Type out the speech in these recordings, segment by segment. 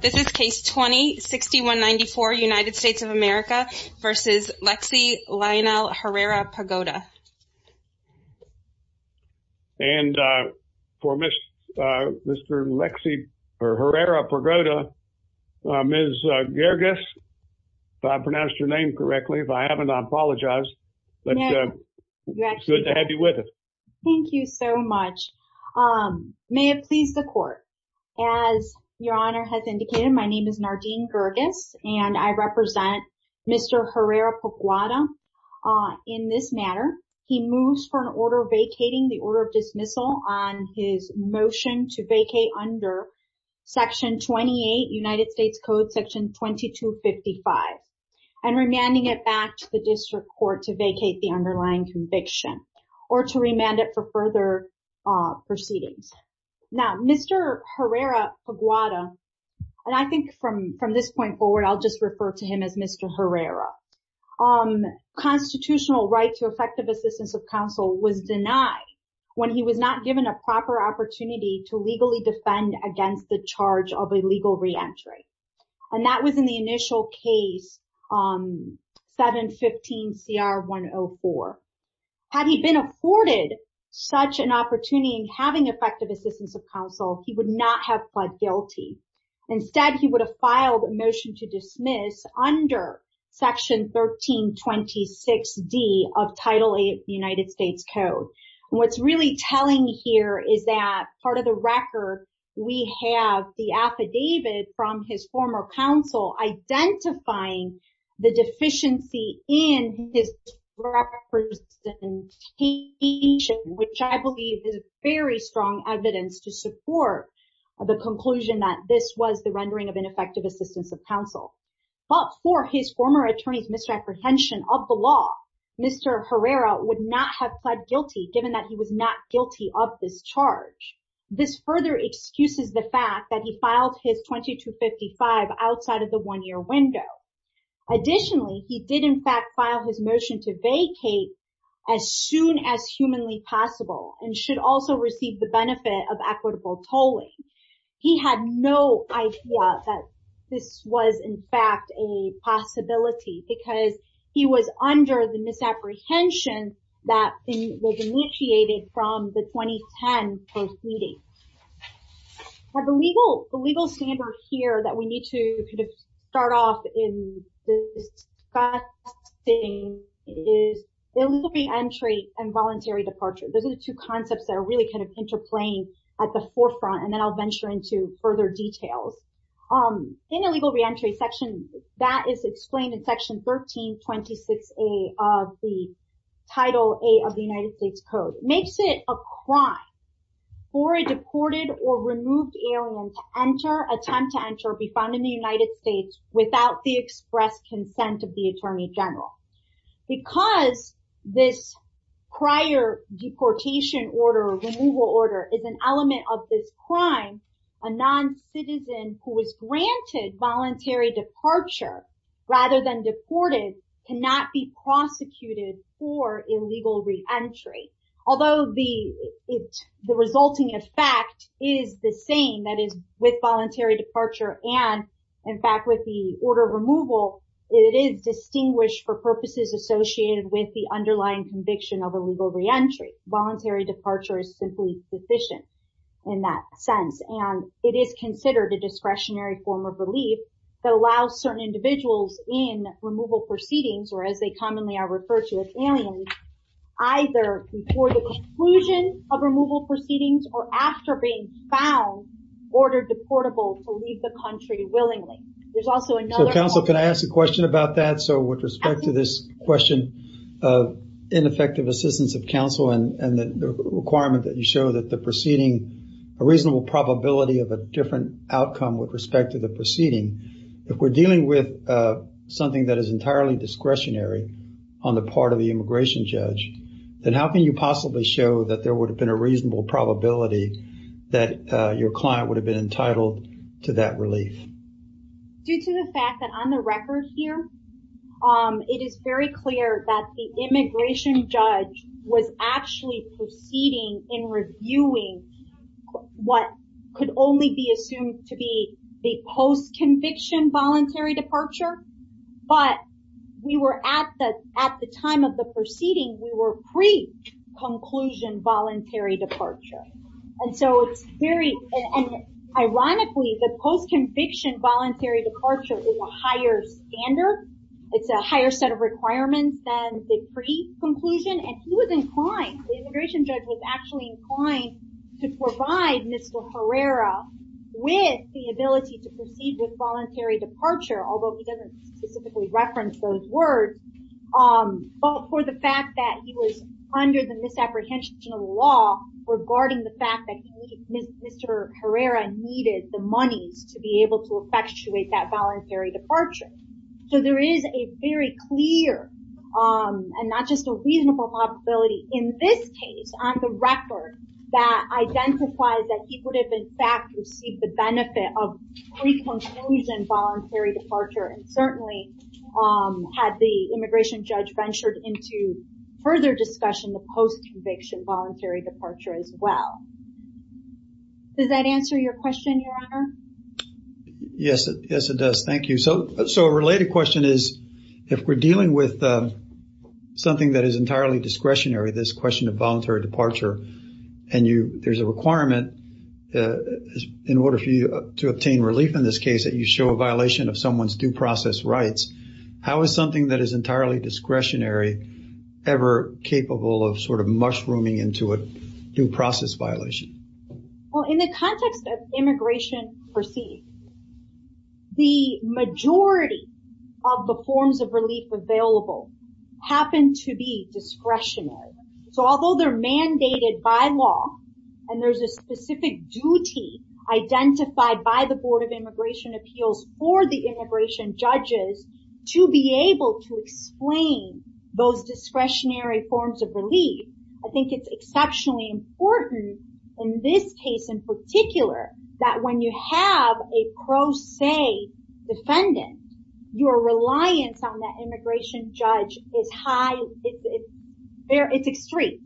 This is case 20-6194 United States of America v. Lexy Lionel Herrera-Pagoda And for Mr. Lexy Herrera-Pagoda, Ms. Gerges, if I pronounced your name correctly, if I haven't I apologize, but it's good to have you with us. Thank you so much. May it please the court. As your honor has indicated, my name is Nardine Gerges and I represent Mr. Herrera-Pagoda. In this matter, he moves for an order vacating the order of dismissal on his motion to vacate under section 28 United States Code section 2255. And remanding it back to the district court to vacate the underlying conviction or to remand it for further proceedings. Now, Mr. Herrera-Pagoda, and I think from this point forward, I'll just refer to him as Mr. Herrera. Constitutional right to effective assistance of counsel was denied when he was not given a proper opportunity to legally defend against the charge of illegal reentry. And that was in the initial case 715 CR 104. Had he been afforded such an opportunity in having effective assistance of counsel, he would not have pled guilty. Instead, he would have filed a motion to dismiss under section 1326 D of title eight United States Code. What's really telling here is that part of the record, we have the affidavit from his former counsel identifying the deficiency in his representation, which I believe is very strong evidence to support the conclusion that this was the rendering of ineffective assistance of counsel. But for his former attorney's misrepresentation of the law, Mr. Herrera would not have pled guilty given that he was not guilty of this charge. This further excuses the fact that he filed his 2255 outside of the one-year window. Additionally, he did in fact file his motion to vacate as soon as humanly possible and should also receive the benefit of equitable tolling. He had no idea that this was in fact a possibility because he was under the misapprehension that was initiated from the 2010 proceedings. The legal standard here that we need to kind of start off in discussing is illegal reentry and voluntary departure. Those are the two concepts that are really kind of interplaying at the forefront, and then I'll venture into further details. In illegal reentry section, that is explained in section 1326 A of the title A of the United States Code. It makes it a crime for a deported or removed alien to enter, attempt to enter or be found in the United States without the express consent of the attorney general. Because this prior deportation order or removal order is an element of this crime, a non-citizen who was granted voluntary departure rather than deported cannot be prosecuted for illegal reentry. Although the resulting effect is the same, that is with voluntary departure and in fact with the order of removal, it is distinguished for purposes associated with the underlying conviction of illegal reentry. Voluntary departure is simply sufficient in that sense. And it is considered a discretionary form of relief that allows certain individuals in removal proceedings, or as they commonly are referred to as aliens, either before the conclusion of removal proceedings or after being found, ordered deportable to leave the country willingly. So counsel, can I ask a question about that? So with respect to this question of ineffective assistance of counsel and the requirement that you show that the proceeding, a reasonable probability of a different outcome with respect to the proceeding, if we're dealing with something that is entirely discretionary on the part of the immigration judge, then how can you possibly show that there would have been a reasonable probability that your client would have been entitled to that relief? Due to the fact that on the record here, it is very clear that the immigration judge was actually proceeding in reviewing what could only be assumed to be the post-conviction voluntary departure. But we were at the time of the proceeding, we were pre-conclusion voluntary departure. And so it's very, and ironically, the post-conviction voluntary departure is a higher standard. It's a higher set of requirements than the pre-conclusion. And he was inclined, the immigration judge was actually inclined to provide Mr. Herrera with the ability to proceed with voluntary departure, although he doesn't specifically reference those words. But for the fact that he was under the misapprehension of the law regarding the fact that Mr. Herrera needed the monies to be able to effectuate that voluntary departure. So there is a very clear and not just a reasonable probability in this case on the record that identifies that he would have in fact received the benefit of pre-conclusion voluntary departure. And certainly had the immigration judge ventured into further discussion of post-conviction voluntary departure as well. Does that answer your question, Your Honor? Yes, it does. Thank you. So a related question is if we're dealing with something that is entirely discretionary, this question of voluntary departure, and there's a requirement in order for you to obtain relief in this case that you show a violation of someone's due process rights. How is something that is entirely discretionary ever capable of sort of mushrooming into a due process violation? Well, in the context of immigration perceived, the majority of the forms of relief available happen to be discretionary. So although they're mandated by law, and there's a specific duty identified by the Board of Immigration Appeals for the immigration judges to be able to explain those discretionary forms of relief. I think it's exceptionally important in this case in particular that when you have a pro se defendant, your reliance on that immigration judge is high, it's extreme.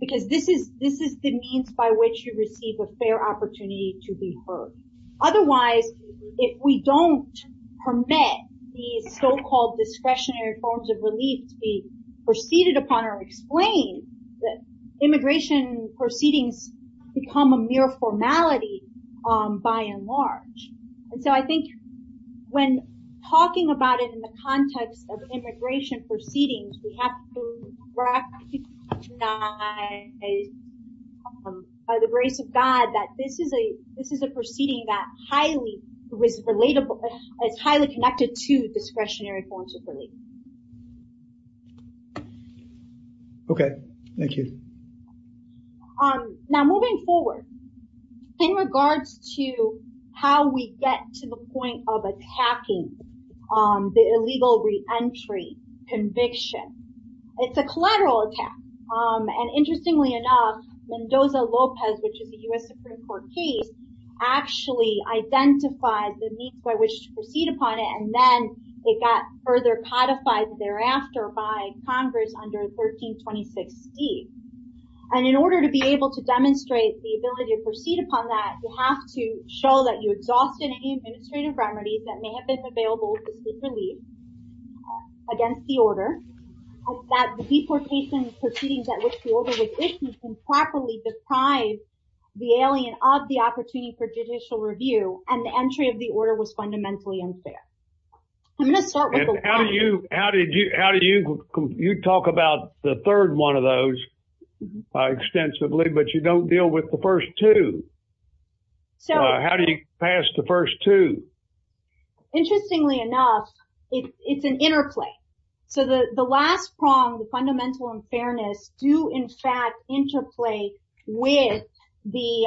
Because this is the means by which you receive a fair opportunity to be heard. Otherwise, if we don't permit these so-called discretionary forms of relief to be preceded upon or explained, immigration proceedings become a mere formality by and large. And so I think when talking about it in the context of immigration proceedings, we have to recognize by the grace of God that this is a proceeding that is highly connected to discretionary forms of relief. Okay, thank you. Now moving forward, in regards to how we get to the point of attacking the illegal re-entry conviction, it's a collateral attack. And interestingly enough, Mendoza-Lopez, which is a U.S. Supreme Court case, actually identified the means by which to proceed upon it, and then it got further codified thereafter by Congress under 1326D. And in order to be able to demonstrate the ability to proceed upon that, you have to show that you exhausted any administrative remedies that may have been available to seek relief against the order, that the deportation proceedings at which the order was issued improperly deprived the alien of the opportunity for judicial review, and the entry of the order was fundamentally unfair. And how do you, you talk about the third one of those extensively, but you don't deal with the first two. How do you pass the first two? Interestingly enough, it's an interplay. So the last prong, the fundamental unfairness, do in fact interplay with the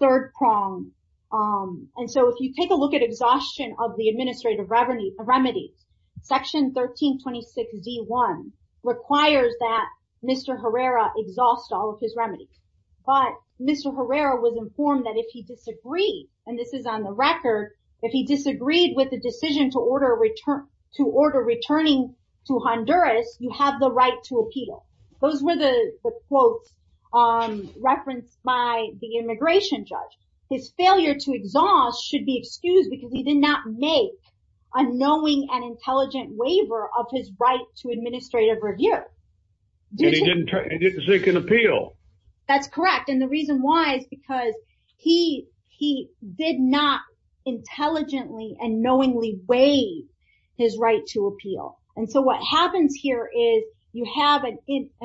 third prong. And so if you take a look at exhaustion of the administrative remedies, Section 1326D.1 requires that Mr. Herrera exhaust all of his remedies. But Mr. Herrera was informed that if he disagreed, and this is on the record, if he disagreed with the decision to order returning to Honduras, you have the right to appeal. Those were the quotes referenced by the immigration judge. His failure to exhaust should be excused because he did not make a knowing and intelligent waiver of his right to administrative review. And he didn't seek an appeal. That's correct. And the reason why is because he did not intelligently and knowingly waive his right to appeal. And so what happens here is you have an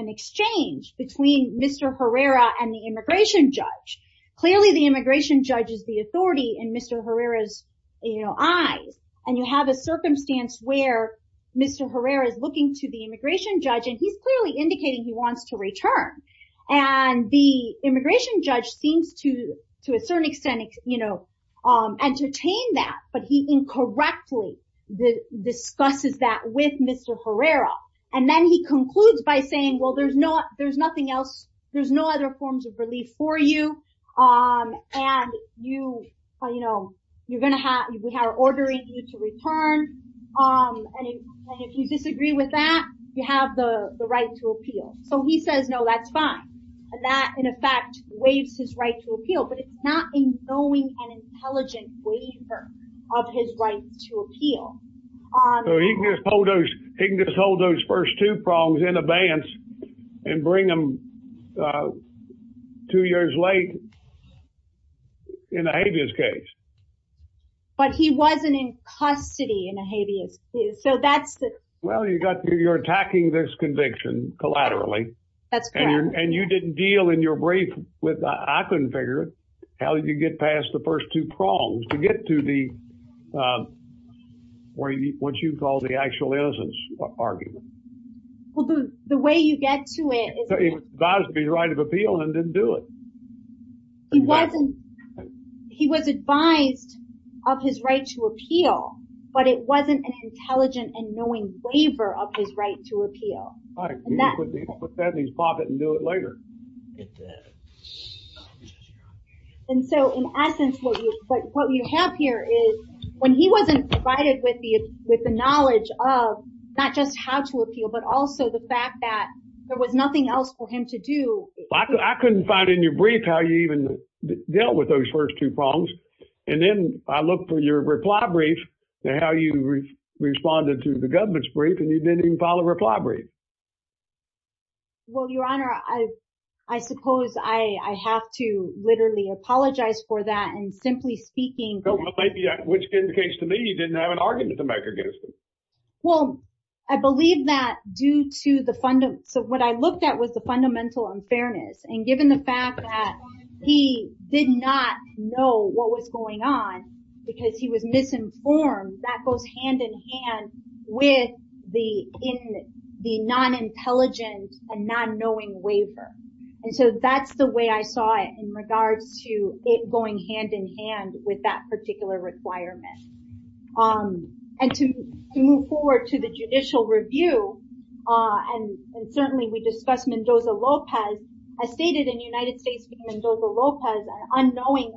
exchange between Mr. Herrera and the immigration judge. Clearly, the immigration judge is the authority in Mr. Herrera's eyes. And you have a circumstance where Mr. Herrera is looking to the immigration judge and he's clearly indicating he wants to return. And the immigration judge seems to, to a certain extent, you know, entertain that. But he incorrectly discusses that with Mr. Herrera. And then he concludes by saying, well, there's not there's nothing else. There's no other forms of relief for you. And you know, you're going to have we have ordering you to return. And if you disagree with that, you have the right to appeal. So he says, no, that's fine. And that, in effect, waives his right to appeal. But it's not a knowing and intelligent waiver of his right to appeal. So he can just hold those first two prongs in advance and bring them two years late in a habeas case. But he wasn't in custody in a habeas case. So that's. Well, you got you're attacking this conviction collaterally. And you didn't deal in your brief with. I couldn't figure out how you get past the first two prongs to get to the. What you call the actual innocence argument. Well, the way you get to it is advised to be right of appeal and didn't do it. He wasn't he was advised of his right to appeal. But it wasn't an intelligent and knowing waiver of his right to appeal. That means pop it and do it later. And so in essence, what you have here is when he wasn't provided with the with the knowledge of not just how to appeal, but also the fact that there was nothing else for him to do. I couldn't find in your brief how you even dealt with those first two prongs. And then I look for your reply brief to how you responded to the government's brief and you didn't even follow reply brief. Well, your honor, I, I suppose I have to literally apologize for that. And simply speaking, which indicates to me you didn't have an argument to make against. Well, I believe that due to the fund. So what I looked at was the fundamental unfairness. And given the fact that he did not know what was going on because he was misinformed, that goes hand in hand with the in the non-intelligent and not knowing waiver. And so that's the way I saw it in regards to it going hand in hand with that particular requirement. And to move forward to the judicial review. And certainly we discussed Mendoza-Lopez as stated in United States v. Mendoza-Lopez, unknowing,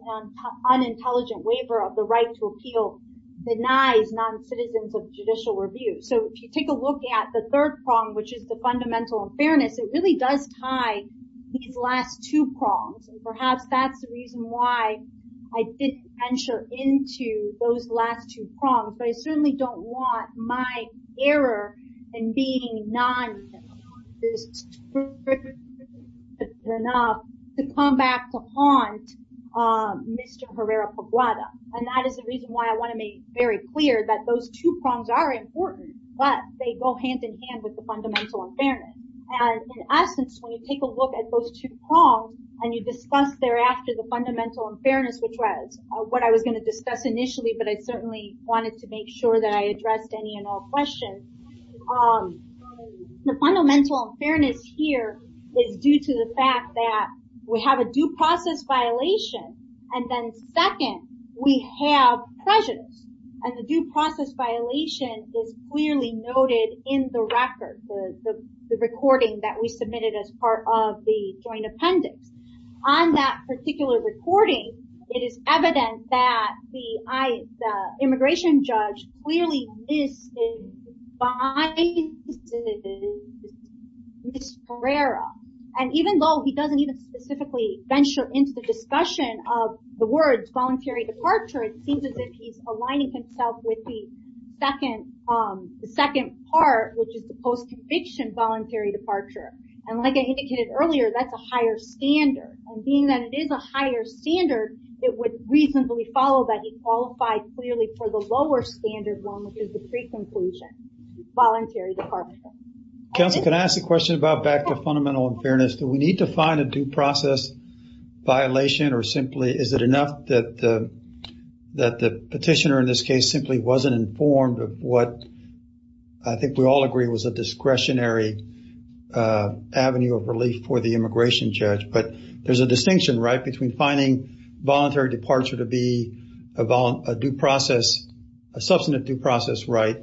unintelligent waiver of the right to appeal denies non-citizens of judicial review. So if you take a look at the third prong, which is the fundamental unfairness, it really does tie these last two prongs. And perhaps that's the reason why I didn't venture into those last two prongs. But I certainly don't want my error in being non-intelligent enough to come back to haunt Mr. Herrera-Poblada. And that is the reason why I want to make very clear that those two prongs are important, but they go hand in hand with the fundamental unfairness. And in essence, when you take a look at those two prongs and you discuss thereafter the fundamental unfairness, which was what I was going to discuss initially, but I certainly wanted to make sure that I addressed any and all questions. The fundamental fairness here is due to the fact that we have a due process violation. And then second, we have prejudice. And the due process violation is clearly noted in the record, the recording that we submitted as part of the joint appendix. On that particular recording, it is evident that the immigration judge clearly mis-advises Mr. Herrera. And even though he doesn't even specifically venture into the discussion of the words voluntary departure, it seems as if he's aligning himself with the second part, which is the post-conviction voluntary departure. And like I indicated earlier, that's a higher standard. And being that it is a higher standard, it would reasonably follow that he qualified clearly for the lower standard one, which is the pre-conclusion voluntary departure. Counsel, can I ask a question about back to fundamental unfairness? Do we need to find a due process violation or simply is it enough that the petitioner in this case simply wasn't informed of what I think we all agree was a discretionary avenue of relief for the immigration judge? But there's a distinction, right, between finding voluntary departure to be a due process, a substantive due process right,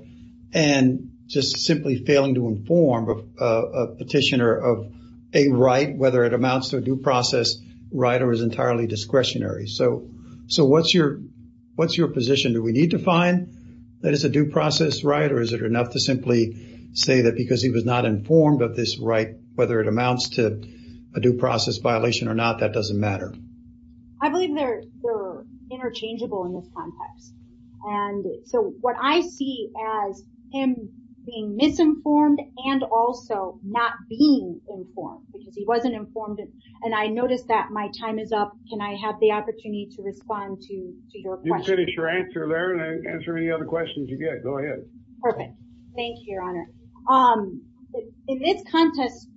and just simply failing to inform a petitioner of a right, whether it amounts to a due process right or is entirely discretionary. So what's your position? Do we need to find that it's a due process right or is it enough to simply say that because he was not informed of this right, whether it amounts to a due process violation or not, that doesn't matter? I believe they're interchangeable in this context. And so what I see as him being misinformed and also not being informed because he wasn't informed and I noticed that my time is up. Can I have the opportunity to respond to your question? You can finish your answer there and answer any other questions you get. Go ahead. Perfect. Thank you, Your Honor. In this context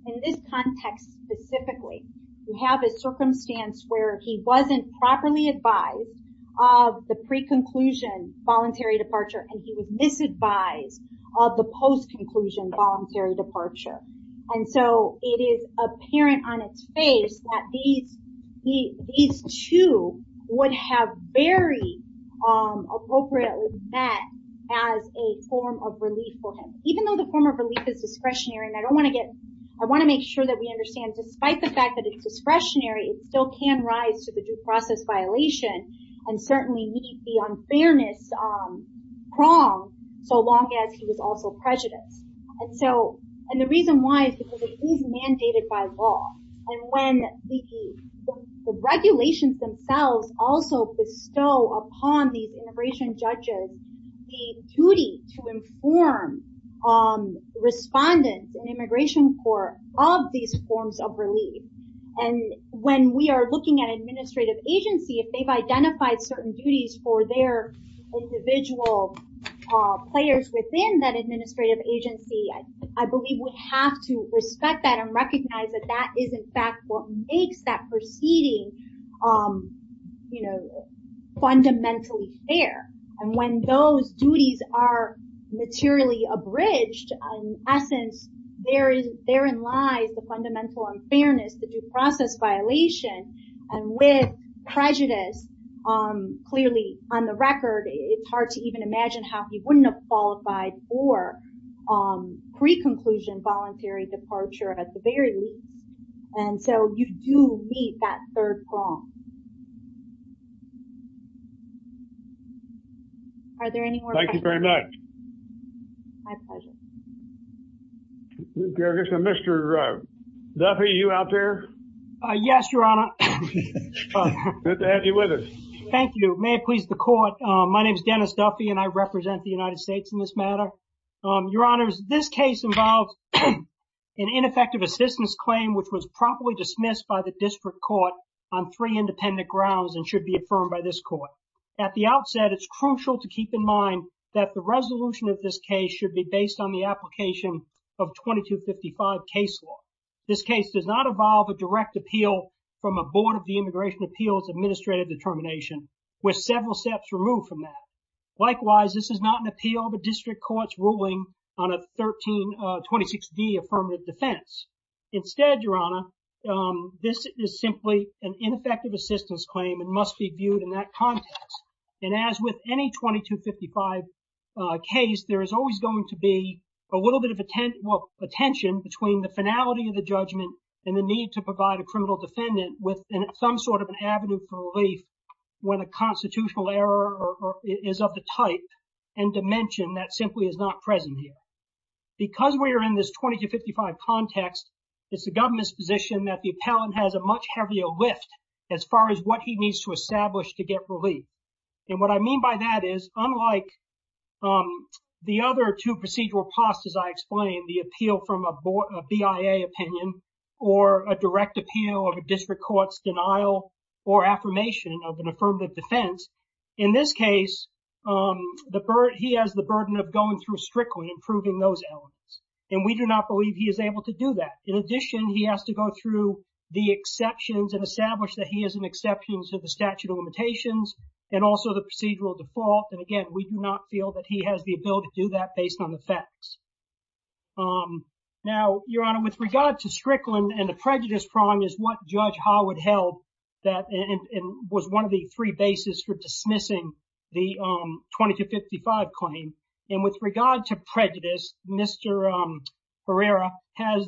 specifically, you have a circumstance where he wasn't properly advised of the pre-conclusion voluntary departure and he was misadvised of the post-conclusion voluntary departure. And so it is apparent on its face that these two would have very appropriately met as a form of relief for him. Even though the form of relief is discretionary and I want to make sure that we understand, despite the fact that it's discretionary, it still can rise to the due process violation and certainly meet the unfairness prong so long as he was also prejudiced. And the reason why is because it is mandated by law. And when the regulations themselves also bestow upon these immigration judges the duty to inform respondents in immigration court of these forms of relief. And when we are looking at administrative agency, if they've identified certain duties for their individual players within that administrative agency, I believe we have to respect that and recognize that that is, in fact, what makes that proceeding fundamentally fair. And when those duties are materially abridged, in essence, therein lies the fundamental unfairness, the due process violation. And with prejudice, clearly on the record, it's hard to even imagine how he wouldn't have qualified for pre-conclusion voluntary departure at the very least. And so you do meet that third prong. Are there any more questions? Thank you very much. My pleasure. Mr. Duffy, are you out there? Yes, Your Honor. Good to have you with us. Thank you. May it please the court. My name is Dennis Duffy, and I represent the United States in this matter. Your Honors, this case involved an ineffective assistance claim which was properly dismissed by the district court on three independent grounds and should be affirmed by this court. At the outset, it's crucial to keep in mind that the resolution of this case should be based on the application of 2255 case law. This case does not involve a direct appeal from a board of the Immigration Appeals Administrative Determination with several steps removed from that. Likewise, this is not an appeal of a district court's ruling on a 1326D affirmative defense. Instead, Your Honor, this is simply an ineffective assistance claim and must be viewed in that context. And as with any 2255 case, there is always going to be a little bit of attention between the finality of the judgment and the need to provide a criminal defendant with some sort of an avenue for relief when a constitutional error is of the type and dimension that simply is not present here. Because we are in this 2255 context, it's the government's position that the appellant has a much heavier lift as far as what he needs to establish to get relief. And what I mean by that is, unlike the other two procedural costs as I explained, the appeal from a BIA opinion or a direct appeal of a district court's denial or affirmation of an affirmative defense, in this case, he has the burden of going through strictly and proving those elements. And we do not believe he is able to do that. In addition, he has to go through the exceptions and establish that he has an exception to the statute of limitations and also the procedural default. And again, we do not feel that he has the ability to do that based on the facts. Now, Your Honor, with regard to Strickland and the prejudice prong is what Judge Howard held and was one of the three bases for dismissing the 2255 claim. And with regard to prejudice, Mr. Herrera has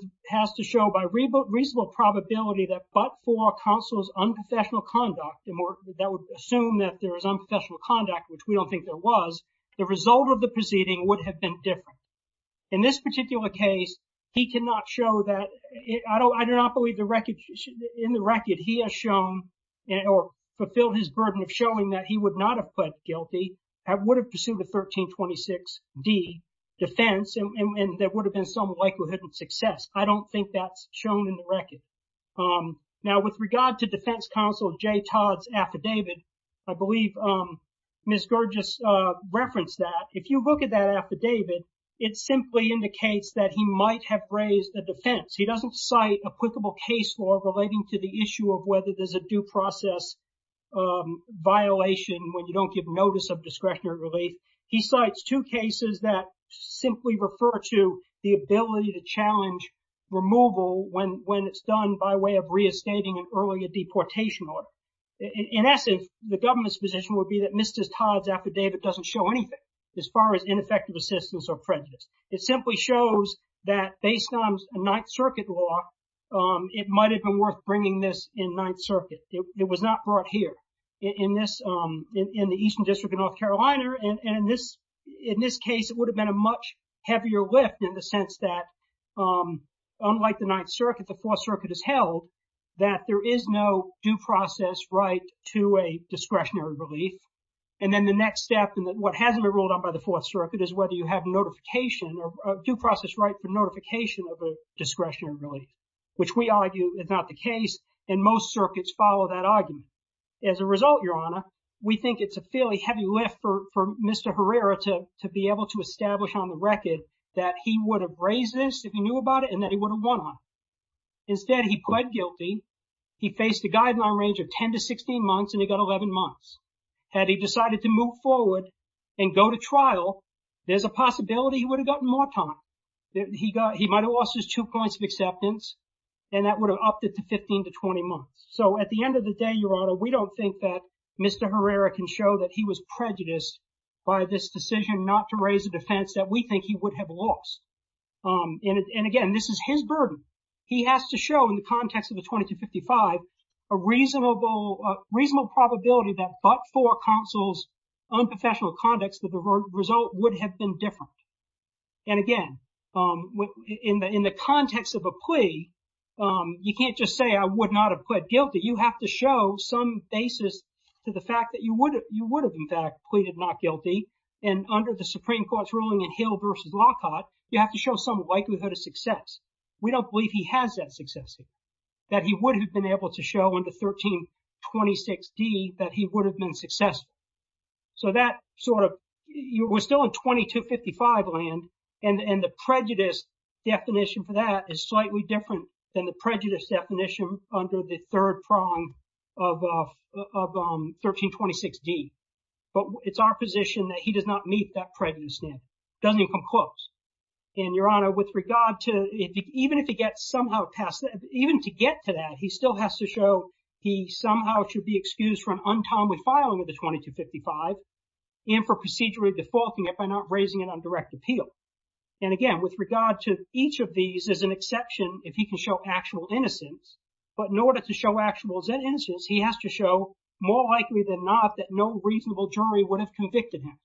to show by reasonable probability that but for counsel's unprofessional conduct that would assume that there is unprofessional conduct, which we don't think there was, the result of the proceeding would have been different. In this particular case, he cannot show that. I do not believe in the record he has shown or fulfilled his burden of showing that he would not have pled guilty and would have pursued a 1326D defense and there would have been some likelihood of success. I don't think that's shown in the record. Now, with regard to defense counsel J. Todd's affidavit, I believe Ms. Gurd just referenced that. If you look at that affidavit, it simply indicates that he might have raised a defense. He doesn't cite applicable case law relating to the issue of whether there's a due process violation when you don't give notice of discretionary relief. He cites two cases that simply refer to the ability to challenge removal when it's done by way of reinstating an earlier deportation order. In essence, the government's position would be that Mr. Todd's affidavit doesn't show anything as far as ineffective assistance or prejudice. It simply shows that based on Ninth Circuit law, it might have been worth bringing this in Ninth Circuit. It was not brought here in the Eastern District of North Carolina. And in this case, it would have been a much heavier lift in the sense that unlike the Ninth Circuit, the Fourth Circuit has held that there is no due process right to a discretionary relief. And then the next step and what hasn't been ruled out by the Fourth Circuit is whether you have notification or due process right for notification of a discretionary relief, which we argue is not the case. And most circuits follow that argument. As a result, Your Honor, we think it's a fairly heavy lift for Mr. Herrera to be able to establish on the record that he would have raised this if he knew about it and that he would have won on it. Instead, he pled guilty. He faced a guideline range of 10 to 16 months and he got 11 months. Had he decided to move forward and go to trial, there's a possibility he would have gotten more time. He might have lost his two points of acceptance and that would have upped it to 15 to 20 months. So at the end of the day, Your Honor, we don't think that Mr. Herrera can show that he was prejudiced by this decision not to raise a defense that we think he would have lost. And again, this is his burden. He has to show in the context of the 2255 a reasonable probability that but for counsel's unprofessional conducts that the result would have been different. And again, in the context of a plea, you can't just say I would not have pled guilty. You have to show some basis to the fact that you would have, in fact, pleaded not guilty. And under the Supreme Court's ruling in Hill v. Lockhart, you have to show some likelihood of success. We don't believe he has that success, that he would have been able to show in the 1326D that he would have been successful. So that sort of was still in 2255 land. And the prejudice definition for that is slightly different than the prejudice definition under the third prong of 1326D. But it's our position that he does not meet that prejudice now. It doesn't even come close. And, Your Honor, with regard to even if he gets somehow past that, even to get to that, he still has to show he somehow should be excused from untimely filing of the 2255 and for procedurally defaulting it by not raising it on direct appeal. And again, with regard to each of these, there's an exception if he can show actual innocence. But in order to show actual innocence, he has to show more likely than not that no reasonable jury would have convicted him.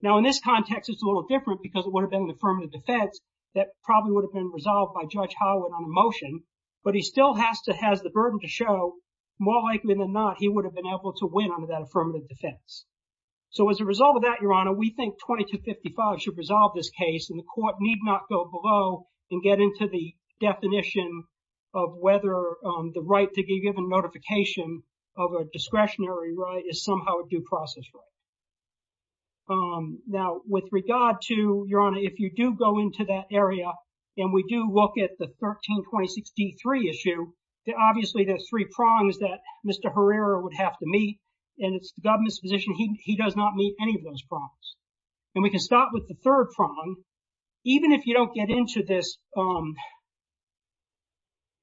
Now, in this context, it's a little different because it would have been the affirmative defense that probably would have been resolved by Judge Howard on a motion. But he still has the burden to show more likely than not he would have been able to win under that affirmative defense. So as a result of that, Your Honor, we think 2255 should resolve this case and the court need not go below and get into the definition of whether the right to be given notification of a discretionary right is somehow a due process right. Now, with regard to, Your Honor, if you do go into that area and we do look at the 13-2063 issue, obviously there are three prongs that Mr. Herrera would have to meet, and it's the government's position he does not meet any of those prongs. And we can start with the third prong. Even if you don't get into this,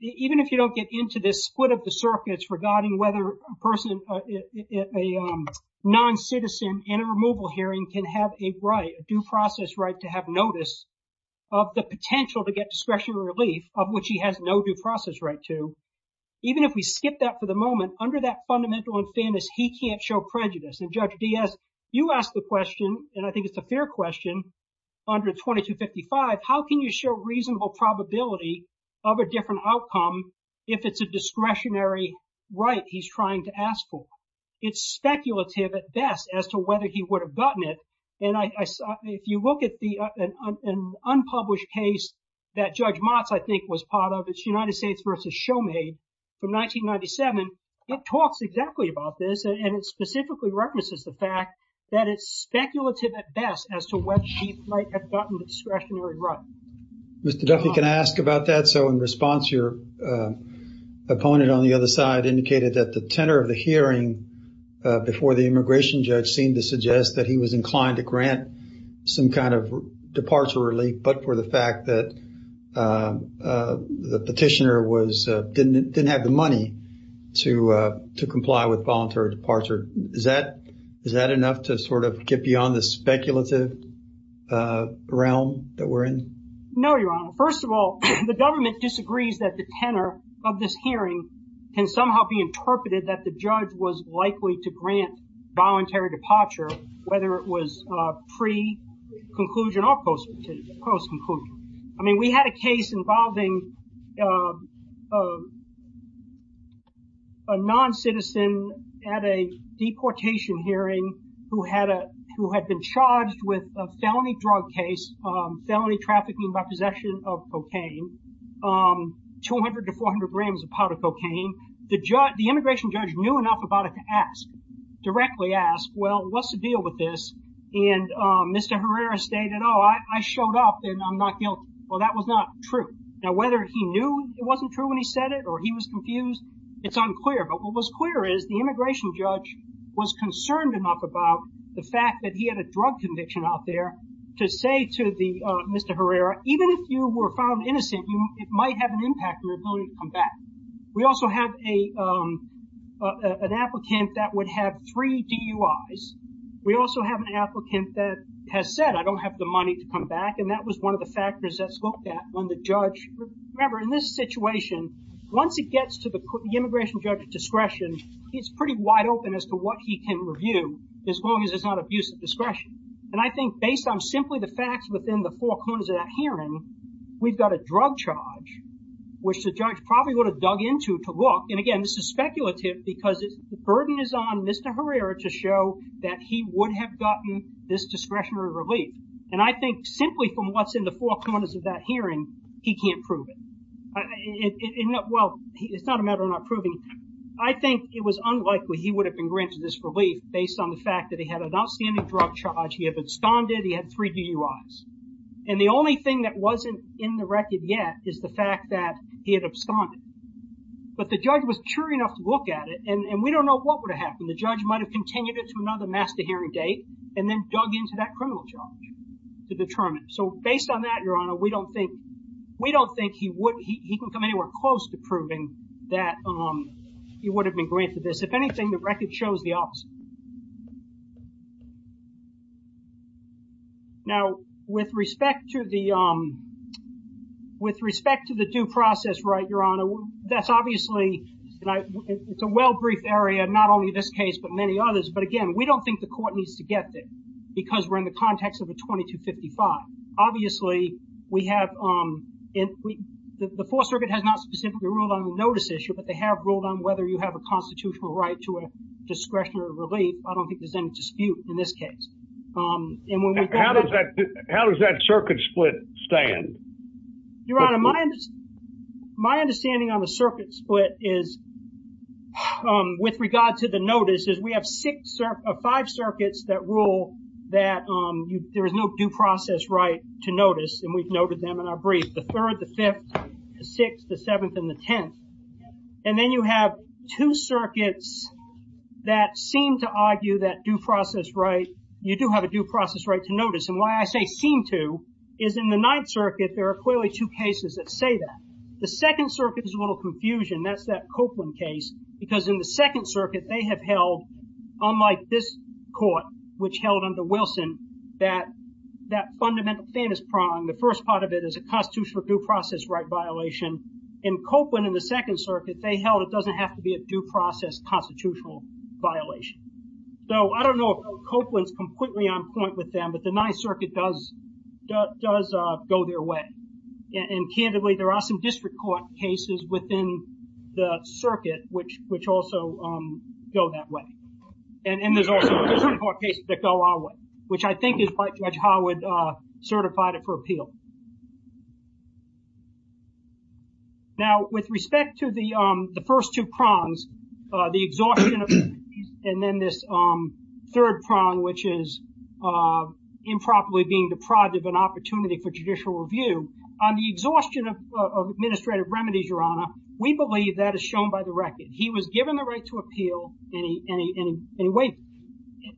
even if you don't get into this split of the circuits regarding whether a person, a non-citizen in a removal hearing can have a right, a due process right to have notice of the potential to get discretionary relief, of which he has no due process right to, even if we skip that for the moment, under that fundamental in fairness, he can't show prejudice. And Judge Diaz, you asked the question, and I think it's a fair question, under 2255, how can you show reasonable probability of a different outcome if it's a discretionary right he's trying to ask for? It's speculative at best as to whether he would have gotten it, and if you look at an unpublished case that Judge Motz, I think, was part of, it's United States v. Shoemade from 1997, it talks exactly about this, and it specifically references the fact that it's speculative at best as to whether he might have gotten the discretionary right. Mr. Duffy, can I ask about that? So in response, your opponent on the other side indicated that the tenor of the hearing before the immigration judge seemed to suggest that he was inclined to grant some kind of departure relief, but for the fact that the petitioner didn't have the money to comply with voluntary departure. Is that enough to sort of get beyond the speculative realm that we're in? No, Your Honor. First of all, the government disagrees that the tenor of this hearing can somehow be interpreted that the judge was likely to grant voluntary departure, whether it was pre-conclusion or post-conclusion. I mean, we had a case involving a non-citizen at a deportation hearing who had been charged with a felony drug case, felony trafficking by possession of cocaine, 200 to 400 grams of powder cocaine. The immigration judge knew enough about it to ask, directly ask, well, what's the deal with this? And Mr. Herrera stated, oh, I showed up and I'm not guilty. Well, that was not true. Now, whether he knew it wasn't true when he said it or he was confused, it's unclear. But what was clear is the immigration judge was concerned enough about the fact that he had a drug conviction out there to say to Mr. Herrera, even if you were found innocent, it might have an impact on your ability to come back. We also have an applicant that would have three DUIs. We also have an applicant that has said, I don't have the money to come back, and that was one of the factors that's looked at when the judge. Remember, in this situation, once it gets to the immigration judge's discretion, it's pretty wide open as to what he can review, as long as it's not abuse of discretion. And I think based on simply the facts within the four corners of that hearing, we've got a drug charge, which the judge probably would have dug into to look. And again, this is speculative because the burden is on Mr. Herrera to show that he would have gotten this discretionary relief. And I think simply from what's in the four corners of that hearing, he can't prove it. Well, it's not a matter of not proving it. I think it was unlikely he would have been granted this relief based on the fact that he had an outstanding drug charge, he had absconded, he had three DUIs. And the only thing that wasn't in the record yet is the fact that he had absconded. But the judge was sure enough to look at it, and we don't know what would have happened. The judge might have continued it to another master hearing date and then dug into that criminal charge to determine. So based on that, Your Honor, we don't think, we don't think he would, he can come anywhere close to proving that he would have been granted this. If anything, the record shows the opposite. Now, with respect to the, with respect to the due process right, Your Honor, that's obviously, it's a well-briefed area, not only this case, but many others. But again, we don't think the court needs to get there because we're in the context of a 2255. Obviously, we have, the Fourth Circuit has not specifically ruled on the notice issue, but they have ruled on whether you have a constitutional right to a discretionary relief. I don't think there's any dispute in this case. How does that circuit split stand? Your Honor, my understanding on the circuit split is, with regard to the notice, is we have five circuits that rule that there is no due process right to notice, and we've noted them in our brief. The third, the fifth, the sixth, the seventh, and the tenth. And then you have two circuits that seem to argue that due process right, you do have a due process right to notice. And why I say seem to is in the Ninth Circuit, there are clearly two cases that say that. The Second Circuit is a little confusion. That's that Copeland case, because in the Second Circuit, they have held, unlike this court, which held under Wilson, that that fundamental famous prong, the first part of it is a constitutional due process right violation. In Copeland, in the Second Circuit, they held it doesn't have to be a due process constitutional violation. So I don't know if Copeland's completely on point with them, but the Ninth Circuit does go their way. And candidly, there are some district court cases within the circuit which also go that way. And there's also district court cases that go our way, which I think is why Judge Howard certified it for appeal. Now, with respect to the first two prongs, the exhaustion and then this third prong, which is improperly being deprived of an opportunity for judicial review, on the exhaustion of administrative remedies, Your Honor, we believe that is shown by the record. He was given the right to appeal and he waited.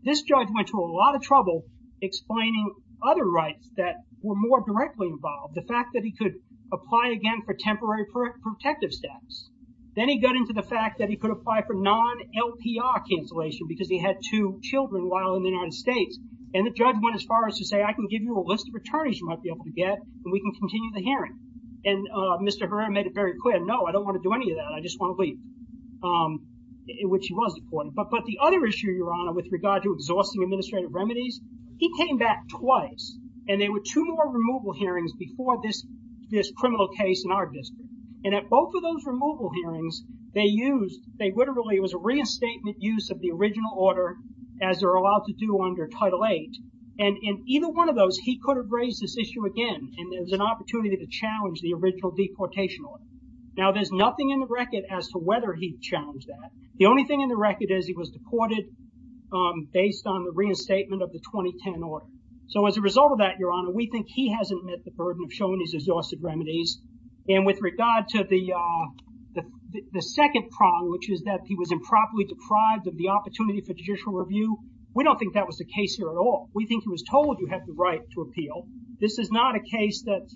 This judge went to a lot of trouble explaining other rights that were more directly involved. The fact that he could apply again for temporary protective status. Then he got into the fact that he could apply for non-LPR cancellation because he had two children while in the United States. And the judge went as far as to say, I can give you a list of attorneys you might be able to get and we can continue the hearing. And Mr. Herrera made it very clear, no, I don't want to do any of that. I just want to leave, which he was deporting. But the other issue, Your Honor, with regard to exhausting administrative remedies, he came back twice and there were two more removal hearings before this criminal case in our district. And at both of those removal hearings, they used, they literally, it was a reinstatement use of the original order as they're allowed to do under Title VIII. And in either one of those, he could have raised this issue again and there was an opportunity to challenge the original deportation order. Now, there's nothing in the record as to whether he challenged that. The only thing in the record is he was deported based on the reinstatement of the 2010 order. So as a result of that, Your Honor, we think he hasn't met the burden of showing his exhausted remedies. And with regard to the second problem, which is that he was improperly deprived of the opportunity for judicial review, we don't think that was the case here at all. We think he was told you have the right to appeal. This is not a case that's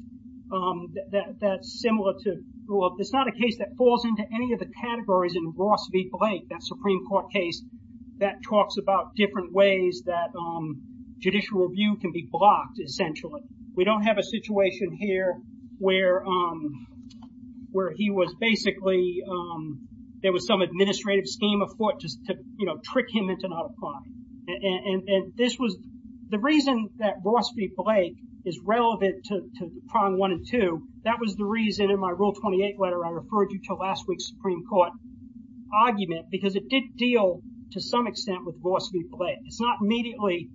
similar to, well, it's not a case that falls into any of the categories in Ross v. Blake, that Supreme Court case that talks about different ways that judicial review can be blocked, essentially. We don't have a situation here where he was basically, there was some administrative scheme of court just to trick him into not applying. And this was, the reason that Ross v. Blake is relevant to Prong I and II, that was the reason in my Rule 28 letter I referred you to last week's Supreme Court argument, because it did deal to some extent with Ross v. Blake. It's not immediately,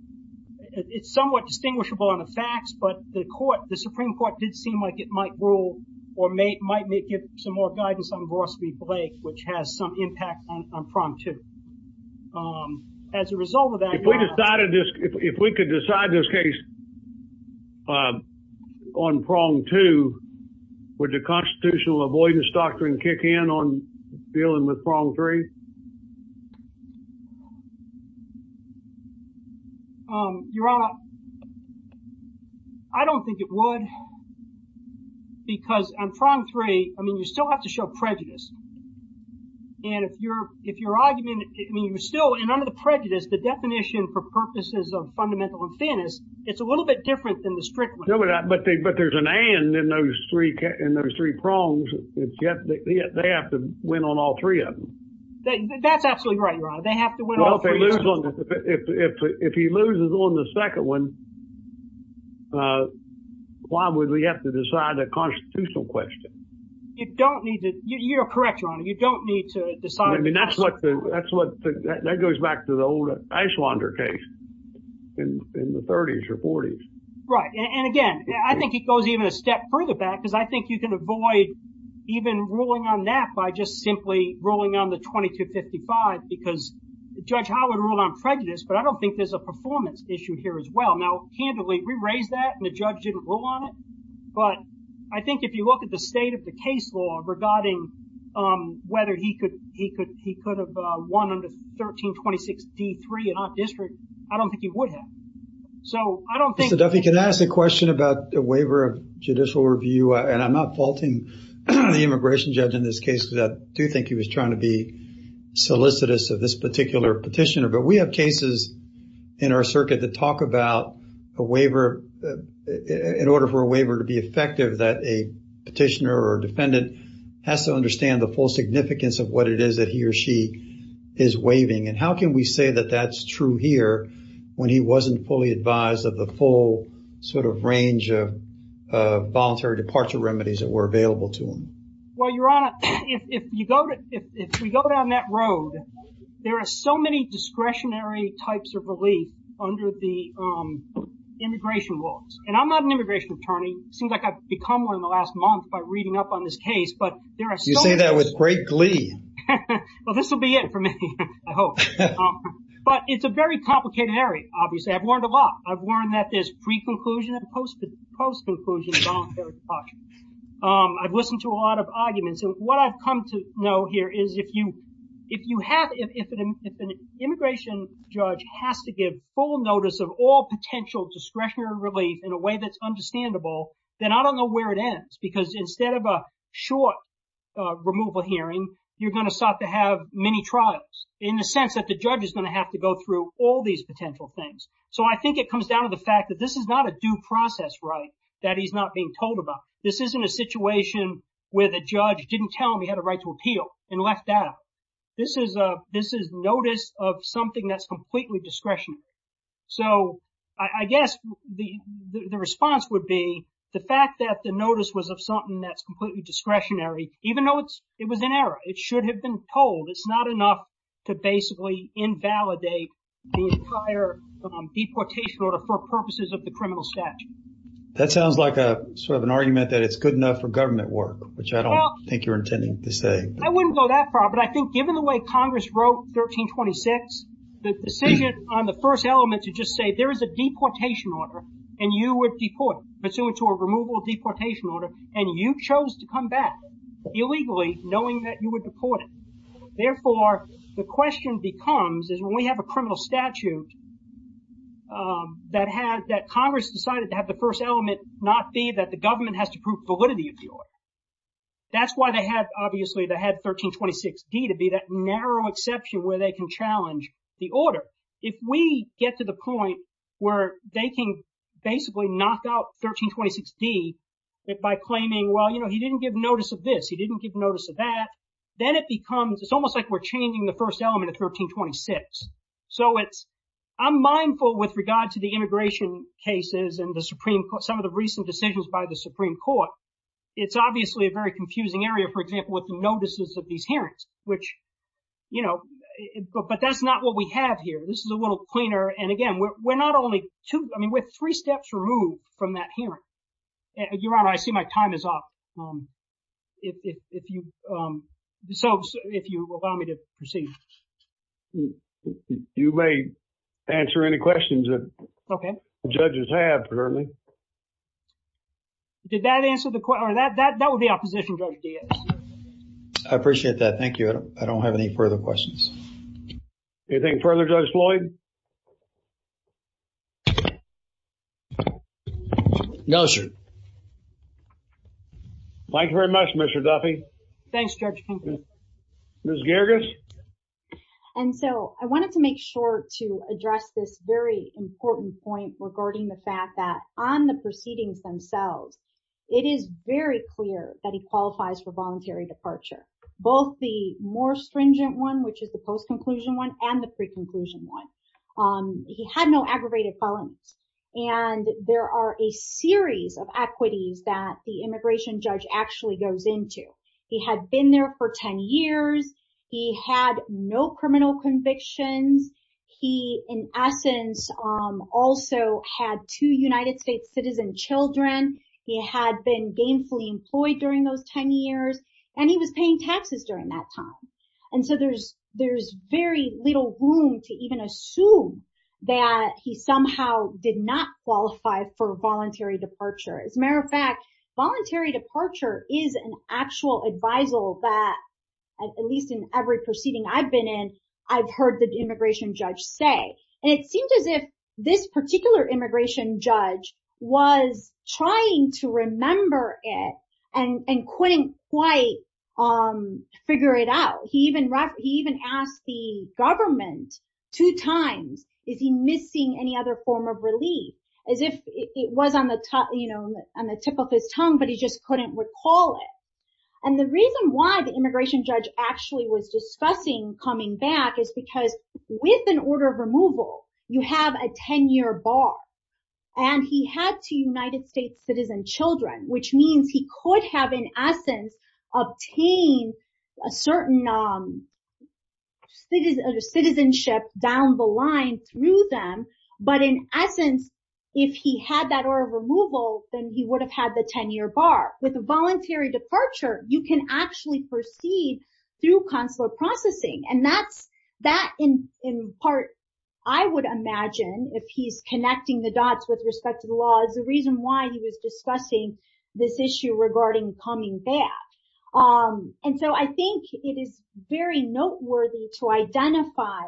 it's somewhat distinguishable on the facts, but the Supreme Court did seem like it might rule or might give some more guidance on Ross v. Blake, which has some impact on Prong II. As a result of that, Your Honor. If we could decide this case on Prong II, would the constitutional avoidance doctrine kick in on dealing with Prong III? Your Honor, I don't think it would, because on Prong III, I mean, you still have to show prejudice. And if your argument, I mean, you're still, and under the prejudice, the definition for purposes of fundamental offense, it's a little bit different than the strict one. But there's an and in those three Prongs. They have to win on all three of them. That's absolutely right, Your Honor. They have to win all three of them. If he loses on the second one, why would we have to decide a constitutional question? You don't need to, you're correct, Your Honor. You don't need to decide. I mean, that goes back to the old Eichwander case in the 30s or 40s. Right, and again, I think it goes even a step further back, because I think you can avoid even ruling on that by just simply ruling on the 2255, because Judge Howard ruled on prejudice, but I don't think there's a performance issue here as well. Now, candidly, we raised that, and the judge didn't rule on it. But I think if you look at the state of the case law regarding whether he could have won under 1326 D3 and not district, I don't think he would have. So I don't think... Mr. Duffy, can I ask a question about the waiver of judicial review? And I'm not faulting the immigration judge in this case because I do think he was trying to be solicitous of this particular petitioner. But we have cases in our circuit that talk about a waiver, in order for a waiver to be effective, that a petitioner or defendant has to understand the full significance of what it is that he or she is waiving. And how can we say that that's true here when he wasn't fully advised of the full sort of range of voluntary departure remedies that were available to him? Well, Your Honor, if we go down that road, there are so many discretionary types of relief under the immigration laws. And I'm not an immigration attorney. It seems like I've become one in the last month by reading up on this case. You say that with great glee. Well, this will be it for me, I hope. But it's a very complicated area, obviously. I've learned a lot. I've learned that there's pre-conclusion and post-conclusion voluntary departure. I've listened to a lot of arguments. And what I've come to know here is if an immigration judge has to give full notice of all potential discretionary relief in a way that's understandable, then I don't know where it ends. Because instead of a short removal hearing, you're going to start to have many trials, in the sense that the judge is going to have to go through all these potential things. So I think it comes down to the fact that this is not a due process right that he's not being told about. This isn't a situation where the judge didn't tell him he had a right to appeal and left that out. This is notice of something that's completely discretionary. So I guess the response would be the fact that the notice was of something that's completely discretionary, even though it was an error. It should have been told. It's not enough to basically invalidate the entire deportation order for purposes of the criminal statute. That sounds like sort of an argument that it's good enough for government work, which I don't think you're intending to say. I wouldn't go that far. But I think given the way Congress wrote 1326, the decision on the first element to just say there is a deportation order and you would deport, pursuant to a removal of deportation order, and you chose to come back illegally knowing that you were deported. Therefore, the question becomes is when we have a criminal statute that Congress decided to have the first element not be that the government has to prove validity of the order. That's why they had, obviously, they had 1326D to be that narrow exception where they can challenge the order. If we get to the point where they can basically knock out 1326D by claiming, well, you know, he didn't give notice of this, he didn't give notice of that, then it becomes it's almost like we're changing the first element of 1326. So I'm mindful with regard to the immigration cases and the Supreme Court, some of the recent decisions by the Supreme Court. It's obviously a very confusing area, for example, with notices of these hearings, which, you know, but that's not what we have here. This is a little cleaner, and again, we're not only two, I mean we're three steps removed from that hearing. Your Honor, I see my time is up. If you allow me to proceed. You may answer any questions that judges have, certainly. Did that answer the question? That would be opposition, Judge Diaz. I appreciate that. Thank you. I don't have any further questions. Anything further, Judge Floyd? No, sir. Thank you very much, Mr. Duffy. Thanks, Judge Kinkley. Ms. Gerges? And so I wanted to make sure to address this very important point regarding the fact that on the proceedings themselves, it is very clear that he qualifies for voluntary departure. Both the more stringent one, which is the post-conclusion one, and the pre-conclusion one. He had no aggravated felonies, and there are a series of equities that the immigration judge actually goes into. He had been there for 10 years. He had no criminal convictions. He, in essence, also had two United States citizen children. He had been gainfully employed during those 10 years, and he was paying taxes during that time. And so there's very little room to even assume that he somehow did not qualify for voluntary departure. As a matter of fact, voluntary departure is an actual advisal that, at least in every proceeding I've been in, I've heard the immigration judge say. And it seems as if this particular immigration judge was trying to remember it and couldn't quite figure it out. He even asked the government two times, is he missing any other form of relief? As if it was on the tip of his tongue, but he just couldn't recall it. And the reason why the immigration judge actually was discussing coming back is because with an order of removal, you have a 10-year bar. And he had two United States citizen children, which means he could have, in essence, obtained a certain citizenship down the line through them. But in essence, if he had that order of removal, then he would have had the 10-year bar. With voluntary departure, you can actually proceed through consular processing. And that, in part, I would imagine, if he's connecting the dots with respect to the law, is the reason why he was discussing this issue regarding coming back. And so I think it is very noteworthy to identify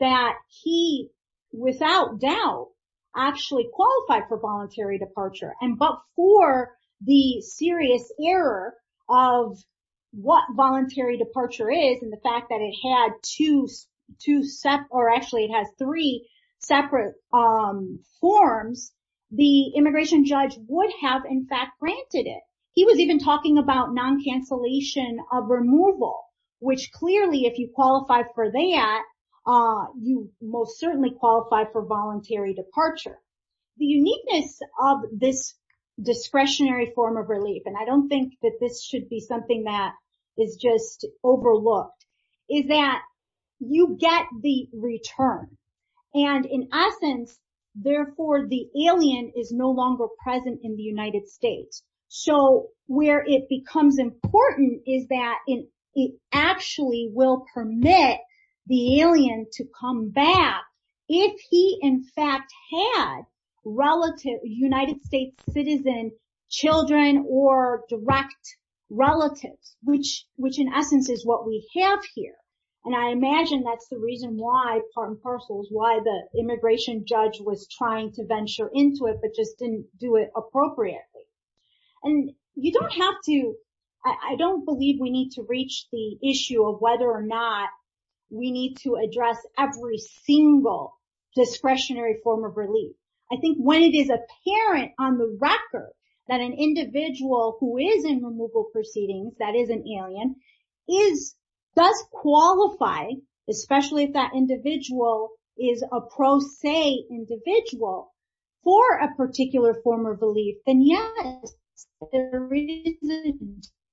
that he, without doubt, actually qualified for voluntary departure. But for the serious error of what voluntary departure is and the fact that it has three separate forms, the immigration judge would have, in fact, granted it. He was even talking about non-cancellation of removal, which clearly, if you qualify for that, you most certainly qualify for voluntary departure. The uniqueness of this discretionary form of relief, and I don't think that this should be something that is just overlooked, is that you get the return. And in essence, therefore, the alien is no longer present in the United States. So where it becomes important is that it actually will permit the alien to come back if he, in fact, had relative United States citizen children or direct relatives, which in essence is what we have here. And I imagine that's the reason why, part and parcel, why the immigration judge was trying to venture into it but just didn't do it appropriately. And you don't have to – I don't believe we need to reach the issue of whether or not we need to address every single discretionary form of relief. I think when it is apparent on the record that an individual who is in removal proceedings, that is an alien, does qualify, especially if that individual is a pro se individual for a particular form of relief, then yes, there is a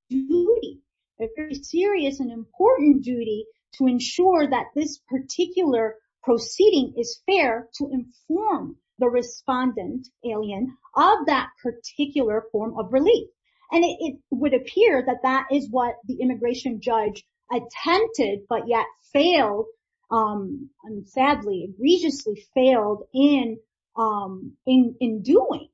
duty, a very serious and important duty, to ensure that this particular proceeding is fair to inform the respondent alien of that particular form of relief. And it would appear that that is what the immigration judge attempted but yet failed, sadly, egregiously failed in doing.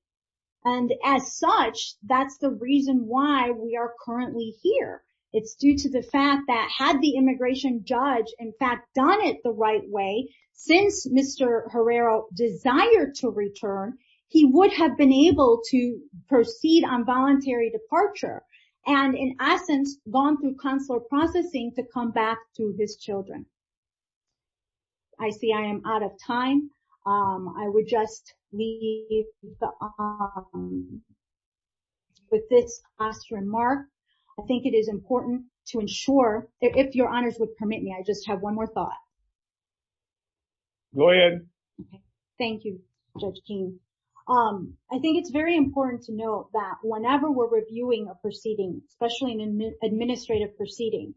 And as such, that's the reason why we are currently here. It's due to the fact that had the immigration judge, in fact, done it the right way, since Mr. Herrera desired to return, he would have been able to proceed on voluntary departure and in essence gone through consular processing to come back to his children. I see I am out of time. I would just leave with this last remark. I think it is important to ensure, if your honors would permit me, I just have one more thought. Go ahead. Thank you, Judge King. I think it's very important to know that whenever we're reviewing a proceeding, especially an administrative proceeding,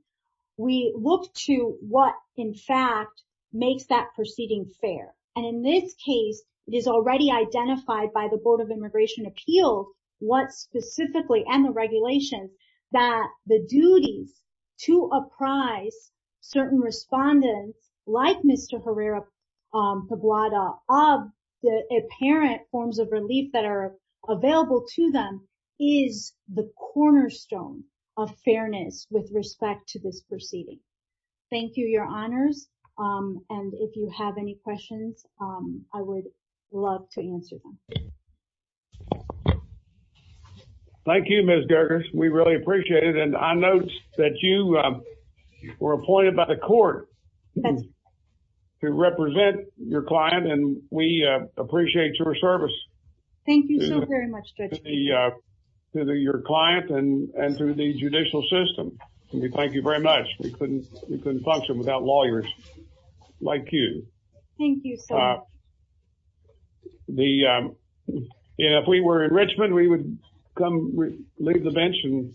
we look to what in fact makes that proceeding fair. And in this case, it is already identified by the Board of Immigration Appeals, what specifically, and the regulations, that the duties to apprise certain respondents like Mr. Herrera Pablada of the apparent forms of relief that are available to them is the cornerstone of fairness with respect to this proceeding. Thank you, your honors. And if you have any questions, I would love to answer them. Thank you, Ms. Gergers. We really appreciate it. And I noticed that you were appointed by the court to represent your client, and we appreciate your service. Thank you so very much, Judge King. To your client and to the judicial system. We thank you very much. We couldn't function without lawyers like you. Thank you, sir. If we were in Richmond, we would come leave the bench and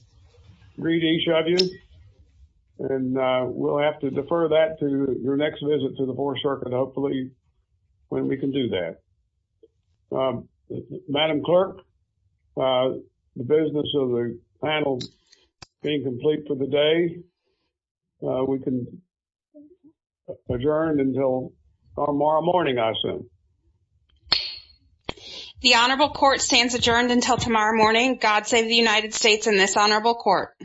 greet each of you. And we'll have to defer that to your next visit to the Fourth Circuit, hopefully, when we can do that. Madam Clerk, the business of the panel being complete for the day, we can adjourn until tomorrow morning, I assume. The honorable court stands adjourned until tomorrow morning. God save the United States and this honorable court.